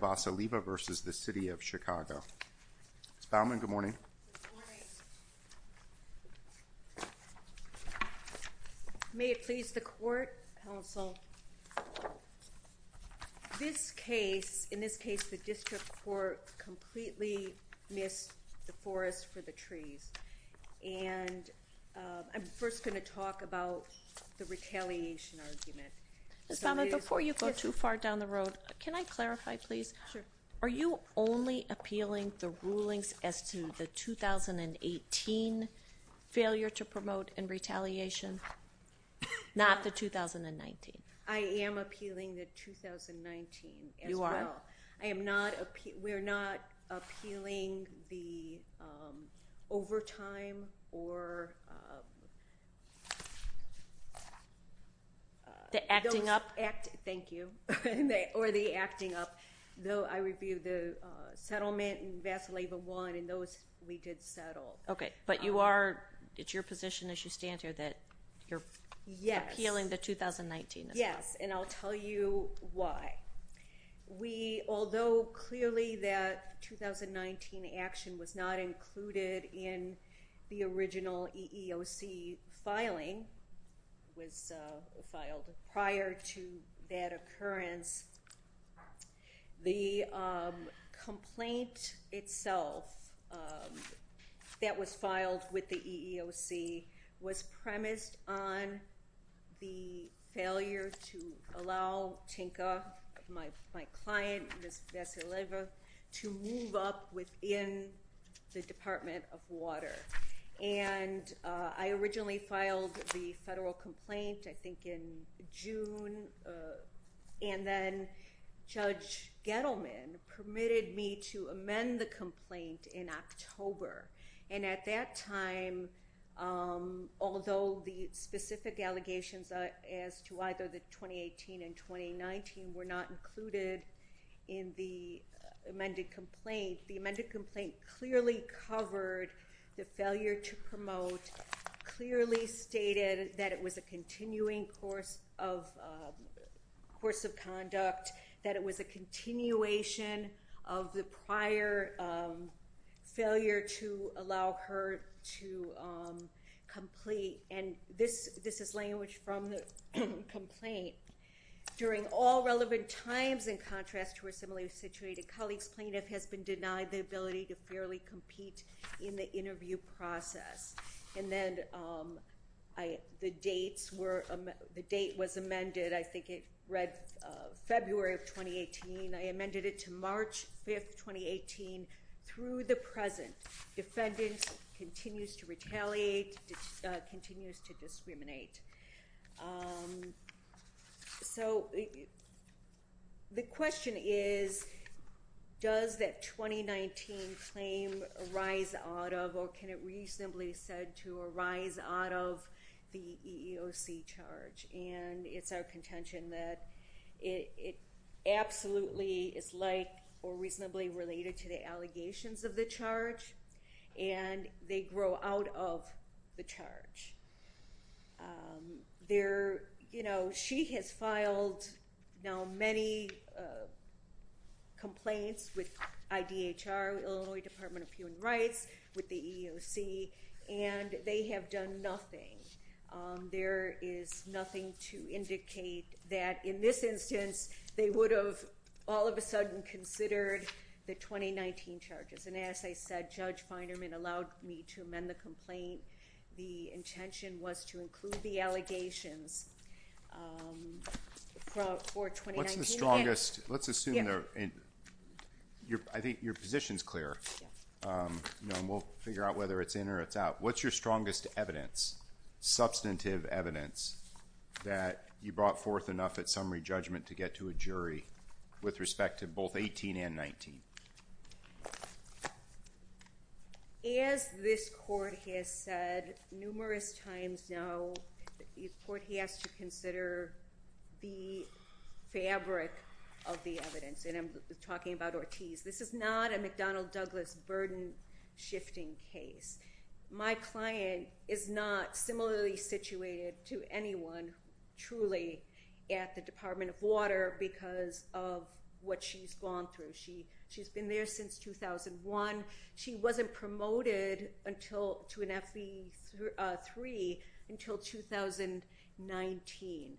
Ms. Baumann, good morning. May it please the court, counsel. This case, in this case the district court completely missed the forest for the trees. And I'm first going to talk about the retaliation argument. Ms. Baumann, before you go too far down the road, can I clarify please? Are you only appealing the rulings as to the 2018 failure to promote and retaliation, not the 2019? I am appealing the 2019 as well. I am not, we're not appealing the overtime or the acting up, thank you, or the acting up. Though I reviewed the settlement and Vassileva won and those we did settle. Okay. But you are, it's your position as you stand here that you're appealing the 2019 as well. Yes. And I'll tell you why. We, although clearly that 2019 action was not included in the original EEOC filing, was filed prior to that occurrence, the complaint itself that was filed with the EEOC was premised on the failure to allow Tinka, my client, Ms. Vassileva, to move up within the Department of Water. And I originally filed the federal complaint, I think in June, and then Judge Gettleman permitted me to amend the complaint in October. And at that time, although the specific allegations as to either the 2018 and 2019 were not included in the amended complaint, the amended complaint clearly covered the failure to promote, clearly stated that it was a continuing course of conduct, that it was a continuation of the prior failure to allow her to complete, and this is language from the complaint, during all relevant times, in contrast to her similarly situated colleagues, plaintiff has been denied the ability to fairly compete in the interview process. And then the dates were, the date was amended, I think it read February of 2018, I amended it to March 5th, 2018, through the present, defendant continues to retaliate, continues to discriminate. So the question is, does that 2019 claim arise out of, or can it reasonably said to arise out of the EEOC charge? And it's our contention that it absolutely is like, or reasonably related to the allegations of the charge, and they grow out of the charge. She has filed now many complaints with IDHR, Illinois Department of Human Rights, with the EEOC, and they have done nothing. There is nothing to indicate that in this instance, they would have all of a sudden considered the 2019 charges, and as I said, Judge Feinerman allowed me to amend the complaint, the intention was to include the allegations for 2019. What's the strongest, let's assume, I think your position's clear, and we'll figure out whether it's in or it's out, what's your strongest evidence, substantive evidence, that you brought forth enough at summary judgment to get to a jury with respect to both 18 and 19? As this court has said numerous times now, the court has to consider the fabric of the evidence, and I'm talking about Ortiz. This is not a McDonnell Douglas burden-shifting case. My client is not similarly situated to anyone, truly, at the Department of Water because of what she's gone through. She's been there since 2001. She wasn't promoted to an FE3 until 2019.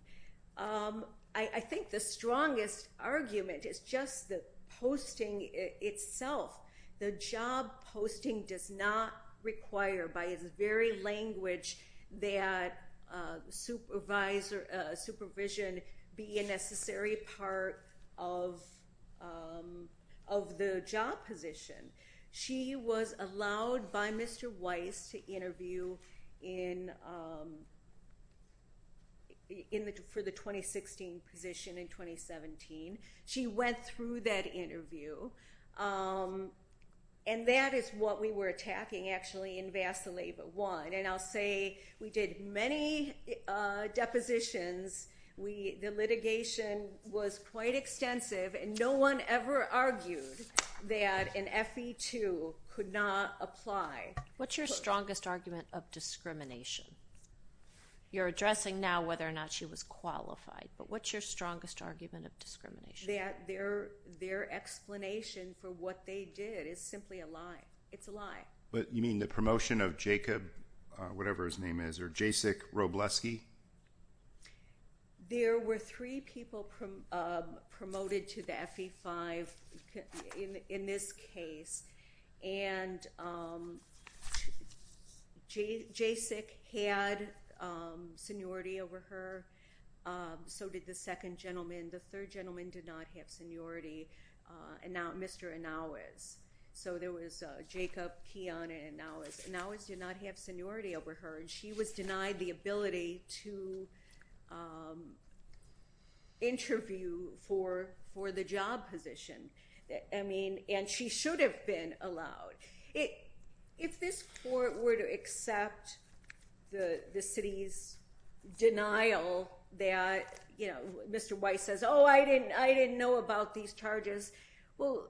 I think the strongest argument is just the posting itself. The job posting does not require, by its very language, that supervision be a necessary part of the job position. She was allowed by Mr. Weiss to interview for the 2016 position in 2017. She went through that interview, and that is what we were attacking, actually, in Vasileva 1. I'll say we did many depositions. The litigation was quite extensive, and no one ever argued that an FE2 could not apply. What's your strongest argument of discrimination? You're addressing now whether or not she was qualified, but what's your strongest argument of discrimination? Their explanation for what they did is simply a lie. It's a lie. You mean the promotion of Jacob, whatever his name is, or Jacek Robleski? There were three people promoted to the FE5 in this case, and Jacek had seniority over her. So did the second gentleman. The third gentleman did not have seniority, Mr. Inouez. So there was Jacob, Keon, and Inouez. Inouez did not have seniority over her, and she was denied the ability to interview for the job position, and she should have been allowed. If this court were to accept the city's denial that Mr. Weiss says, oh, I didn't know about these charges, well,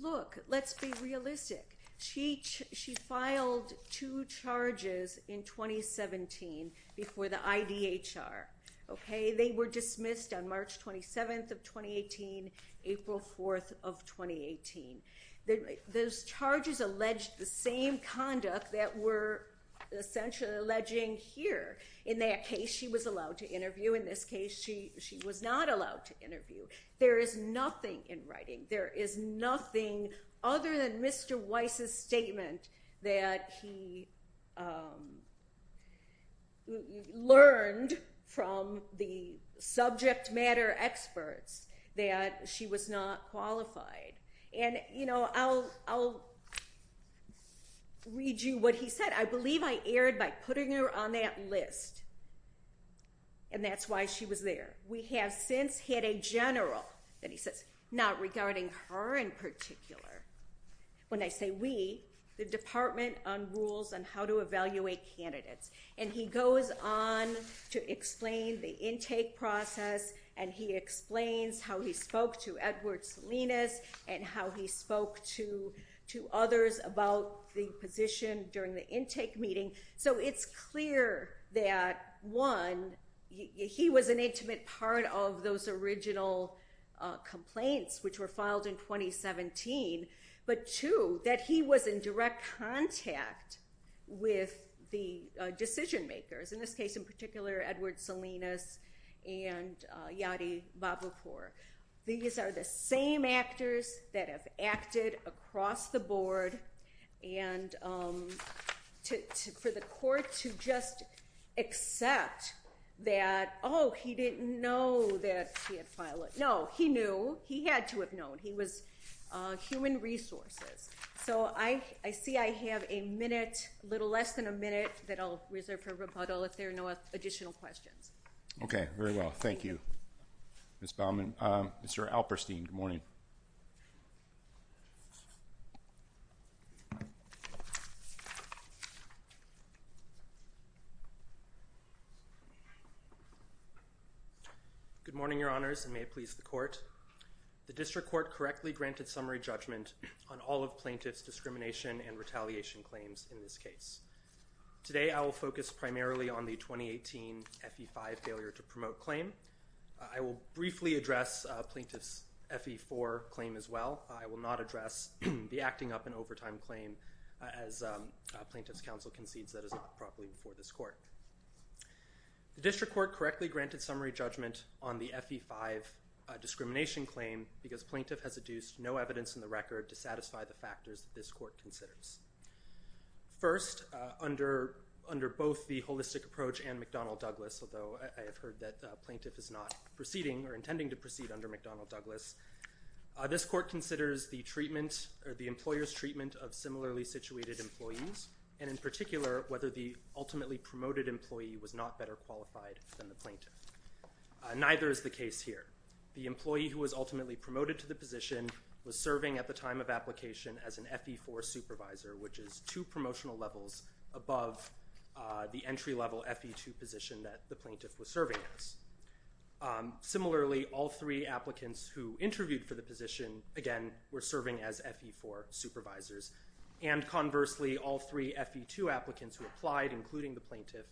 look, let's be realistic. She filed two charges in 2017 before the IDHR. They were dismissed on March 27th of 2018, April 4th of 2018. Those charges alleged the same conduct that were essentially alleging here. In that case, she was allowed to interview. In this case, she was not allowed to interview. There is nothing in writing, there is nothing other than Mr. Weiss's statement that he learned from the subject matter experts that she was not qualified. And I'll read you what he said. I believe I aired by putting her on that list, and that's why she was there. We have since had a general, and he says, not regarding her in particular. When I say we, the Department on Rules on How to Evaluate Candidates, and he goes on to explain the intake process, and he explains how he spoke to Edward Salinas, and how he spoke to others about the position during the intake meeting. So it's clear that, one, he was an intimate part of those original complaints which were filed in 2017, but two, that he was in direct contact with the decision makers. In this case, in particular, Edward Salinas and Yadi Babakur. These are the same actors that have acted across the board, and for the court to just accept that, oh, he didn't know that she had filed, no, he knew, he had to have known. He was human resources. So I see I have a minute, a little less than a minute, that I'll reserve for rebuttal if there are no additional questions. Okay, very well, thank you. Ms. Baumann, Mr. Alperstein, good morning. Good morning, Your Honors, and may it please the Court. The District Court correctly granted summary judgment on all of plaintiff's discrimination and retaliation claims in this case. Today, I will focus primarily on the 2018 FE5 failure to promote claim. I will briefly address plaintiff's FE4 claim as well. I will not address the acting up in overtime claim as plaintiff's counsel concedes that is not properly before this Court. The District Court correctly granted summary judgment on the FE5 discrimination claim because plaintiff has adduced no evidence in the record to satisfy the factors that this Court considers. First, under both the holistic approach and McDonnell-Douglas, although I have heard that plaintiff is not proceeding or intending to proceed under McDonnell-Douglas, this Court considers the treatment or the employer's treatment of similarly situated employees and, in particular, whether the ultimately promoted employee was not better qualified than the plaintiff. Neither is the case here. The employee who was ultimately promoted to the position was serving at the time of application as an FE4 supervisor, which is two promotional levels above the entry-level FE2 position that the plaintiff was serving as. Similarly, all three applicants who interviewed for the position, again, were serving as FE4 supervisors. And, conversely, all three FE2 applicants who applied, including the plaintiff,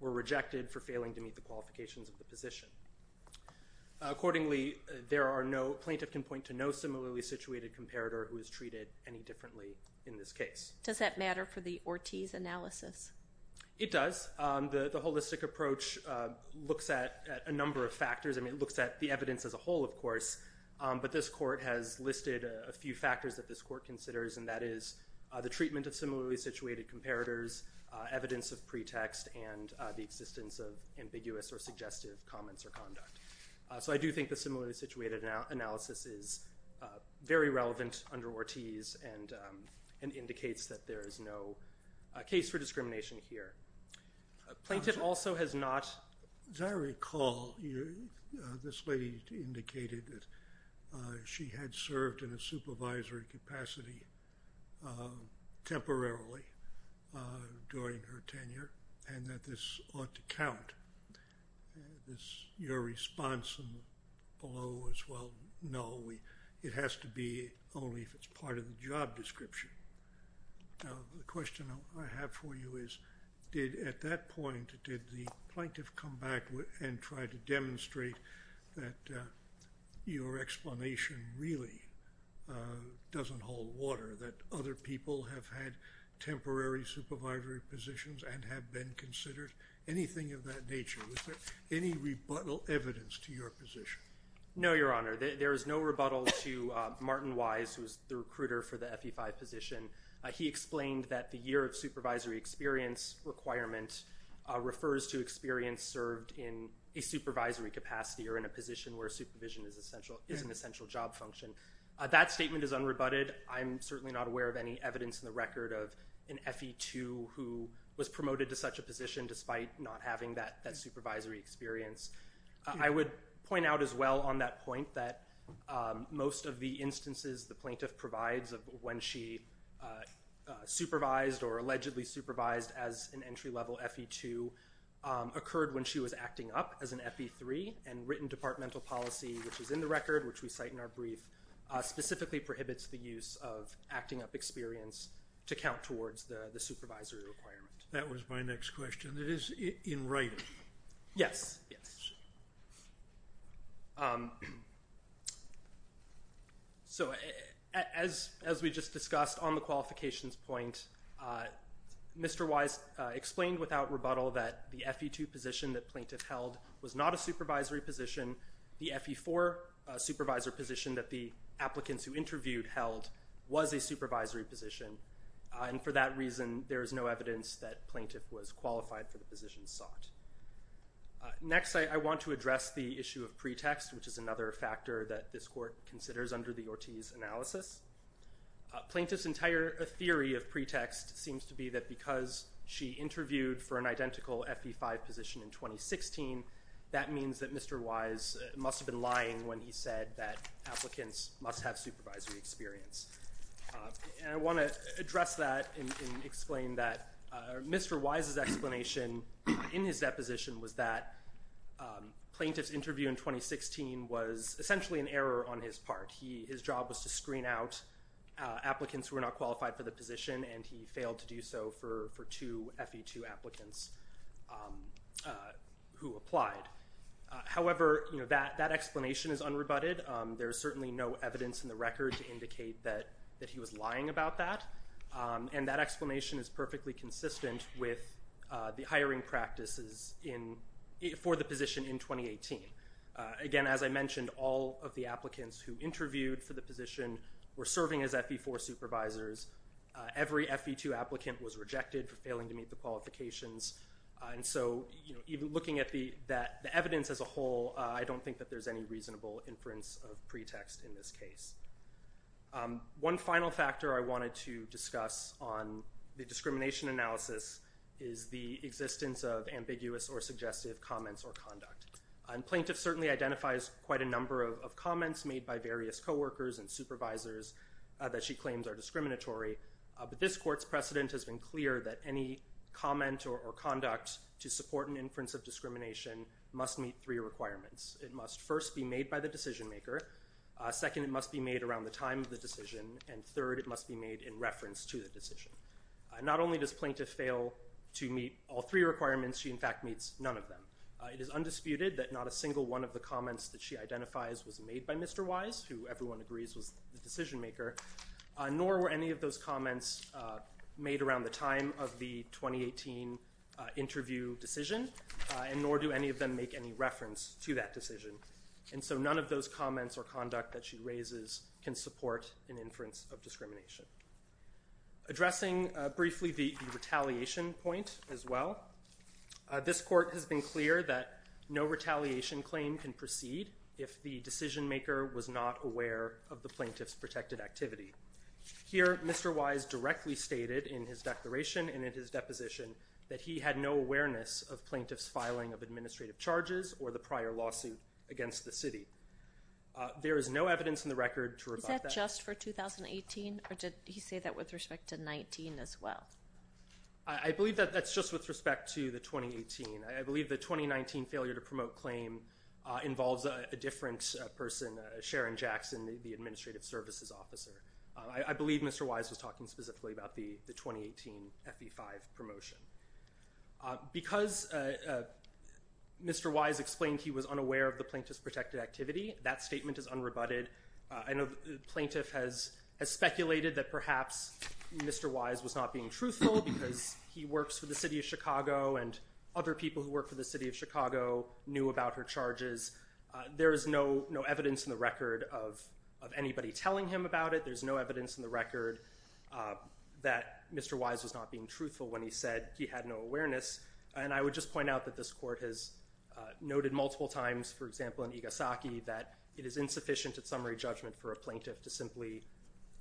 were rejected for failing to meet the qualifications of the position. Accordingly, there are no—plaintiff can point to no similarly situated comparator who is treated any differently in this case. Does that matter for the Ortiz analysis? It does. The holistic approach looks at a number of factors. I mean, it looks at the evidence as a whole, of course, but this Court has listed a few factors that this Court considers, and that is the treatment of similarly situated comparators, evidence of pretext, and the existence of ambiguous or suggestive comments or conduct. So I do think the similarly situated analysis is very relevant under Ortiz and indicates that there is no case for discrimination here. Plaintiff also has not— As I recall, this lady indicated that she had served in a supervisory capacity temporarily during her tenure and that this ought to count. This—your response below is, well, no, it has to be only if it's part of the job description. The question I have for you is, did—at that point, did the plaintiff come back and try to demonstrate that your explanation really doesn't hold water, that other people have had temporary supervisory positions and have been considered, anything of that nature? Was there any rebuttal evidence to your position? No, Your Honor. There is no rebuttal to Martin Wise, who is the recruiter for the FE5 position. He explained that the year of supervisory experience requirement refers to experience served in a supervisory capacity or in a position where supervision is an essential job function. That statement is unrebutted. I'm certainly not aware of any evidence in the record of an FE2 who was promoted to such a position despite not having that supervisory experience. I would point out as well on that point that most of the instances the plaintiff provides of when she supervised or allegedly supervised as an entry-level FE2 occurred when she was acting up as an FE3, and written departmental policy, which is in the record, which we cite in our brief, specifically prohibits the use of acting up experience to count towards the supervisory requirement. That was my next question. It is in writing. Yes, yes. So as we just discussed on the qualifications point, Mr. Wise explained without rebuttal that the FE2 position that plaintiff held was not a supervisory position. The FE4 supervisor position that the applicants who interviewed held was a supervisory position, and for that reason there is no evidence that plaintiff was qualified for the position sought. Next, I want to address the issue of pretext, which is another factor that this court considers under the Ortiz analysis. Plaintiff's entire theory of pretext seems to be that because she interviewed for an must have been lying when he said that applicants must have supervisory experience. And I want to address that and explain that Mr. Wise's explanation in his deposition was that plaintiff's interview in 2016 was essentially an error on his part. His job was to screen out applicants who were not qualified for the position, and he failed to do so for two FE2 applicants who applied. However, that explanation is unrebutted. There is certainly no evidence in the record to indicate that he was lying about that, and that explanation is perfectly consistent with the hiring practices for the position in 2018. Again, as I mentioned, all of the applicants who interviewed for the position were serving as FE4 supervisors. Every FE2 applicant was rejected for failing to meet the qualifications. And so even looking at the evidence as a whole, I don't think that there's any reasonable inference of pretext in this case. One final factor I wanted to discuss on the discrimination analysis is the existence of ambiguous or suggestive comments or conduct. Plaintiff certainly identifies quite a number of comments made by various co-workers and supervisors that she claims are discriminatory, but this court's precedent has been clear that any comment or conduct to support an inference of discrimination must meet three requirements. It must first be made by the decision maker, second, it must be made around the time of the decision, and third, it must be made in reference to the decision. Not only does plaintiff fail to meet all three requirements, she in fact meets none of them. It is undisputed that not a single one of the comments that she identifies was made by Mr. Wise, who everyone agrees was the decision maker, nor were any of those comments made around the time of the 2018 interview decision, and nor do any of them make any reference to that decision. And so none of those comments or conduct that she raises can support an inference of discrimination. Addressing briefly the retaliation point as well, this court has been clear that no retaliation claim can proceed if the decision maker was not aware of the plaintiff's protected activity. Here, Mr. Wise directly stated in his declaration and in his deposition that he had no awareness of plaintiff's filing of administrative charges or the prior lawsuit against the city. There is no evidence in the record to rebut that. Is that just for 2018, or did he say that with respect to 19 as well? I believe that that's just with respect to the 2018. I believe the 2019 failure to promote claim involves a different person, Sharon Jackson, the administrative services officer. I believe Mr. Wise was talking specifically about the 2018 FE5 promotion. Because Mr. Wise explained he was unaware of the plaintiff's protected activity, that statement is unrebutted. I know the plaintiff has speculated that perhaps Mr. Wise was not being truthful because he works for the city of Chicago, and other people who work for the city of Chicago knew about her charges. There is no evidence in the record of anybody telling him about it. There's no evidence in the record that Mr. Wise was not being truthful when he said he had no awareness. I would just point out that this court has noted multiple times, for example, in Igasaki, that it is insufficient at summary judgment for a plaintiff to simply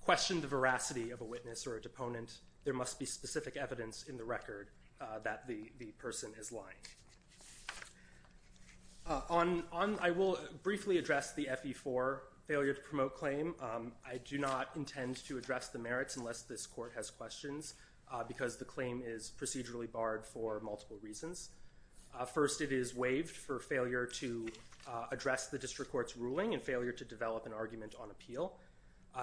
question the veracity of a witness or a deponent. There must be specific evidence in the record that the person is lying. I will briefly address the FE4 failure to promote claim. I do not intend to address the merits unless this court has questions, because the claim is procedurally barred for multiple reasons. First, it is waived for failure to address the district court's ruling and failure to develop an argument on appeal.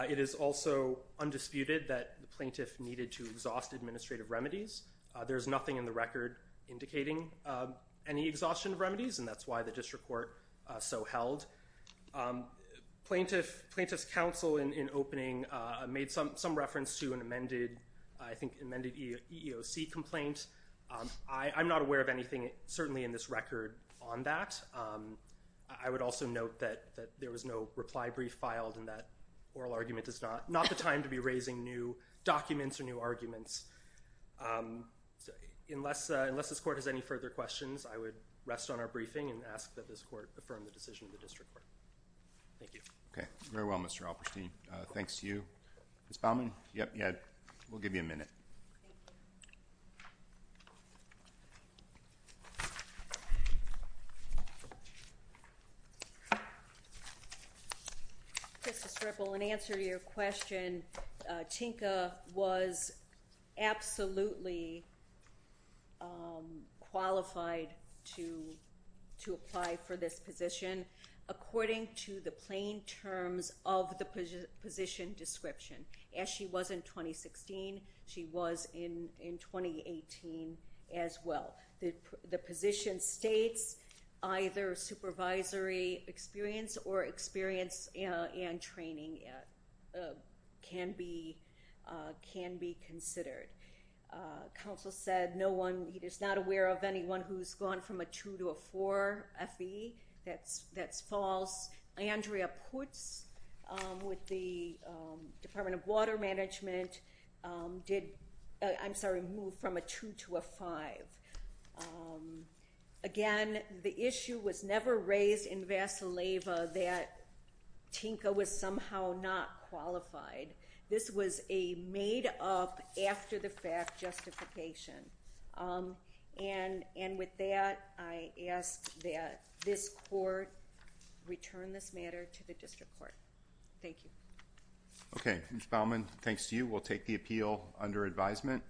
It is also undisputed that the plaintiff needed to exhaust administrative remedies. There's nothing in the record indicating any exhaustion of remedies, and that's why the district court so held. Plaintiff's counsel, in opening, made some reference to an amended EEOC complaint. I'm not aware of anything, certainly in this record, on that. I would also note that there was no reply brief filed, and that oral argument is not the time to be raising new documents or new arguments. Unless this court has any further questions, I would rest on our briefing and ask that this court affirm the decision of the district court. Thank you. Okay. Very well, Mr. Alperstein. Thanks to you. Ms. Baumann? Yep, yeah. We'll give you a minute. Justice Ripple, in answer to your question, Chinka was absolutely qualified to apply for this position according to the plain terms of the position description. As she was in 2016, she was in 2018 as well. The position states either supervisory experience or experience and training can be considered. Counsel said no one is not aware of anyone who's gone from a two to a four FBE. That's false. Andrea Putz with the Department of Water Management did, I'm sorry, move from a two to a five. Um, again, the issue was never raised in Vasileva that Chinka was somehow not qualified. This was a made up after the fact justification. Um, and, and with that, I ask that this court return this matter to the district court. Thank you. Okay, Ms. Baumann. Thanks to you. We'll take the appeal under advisement.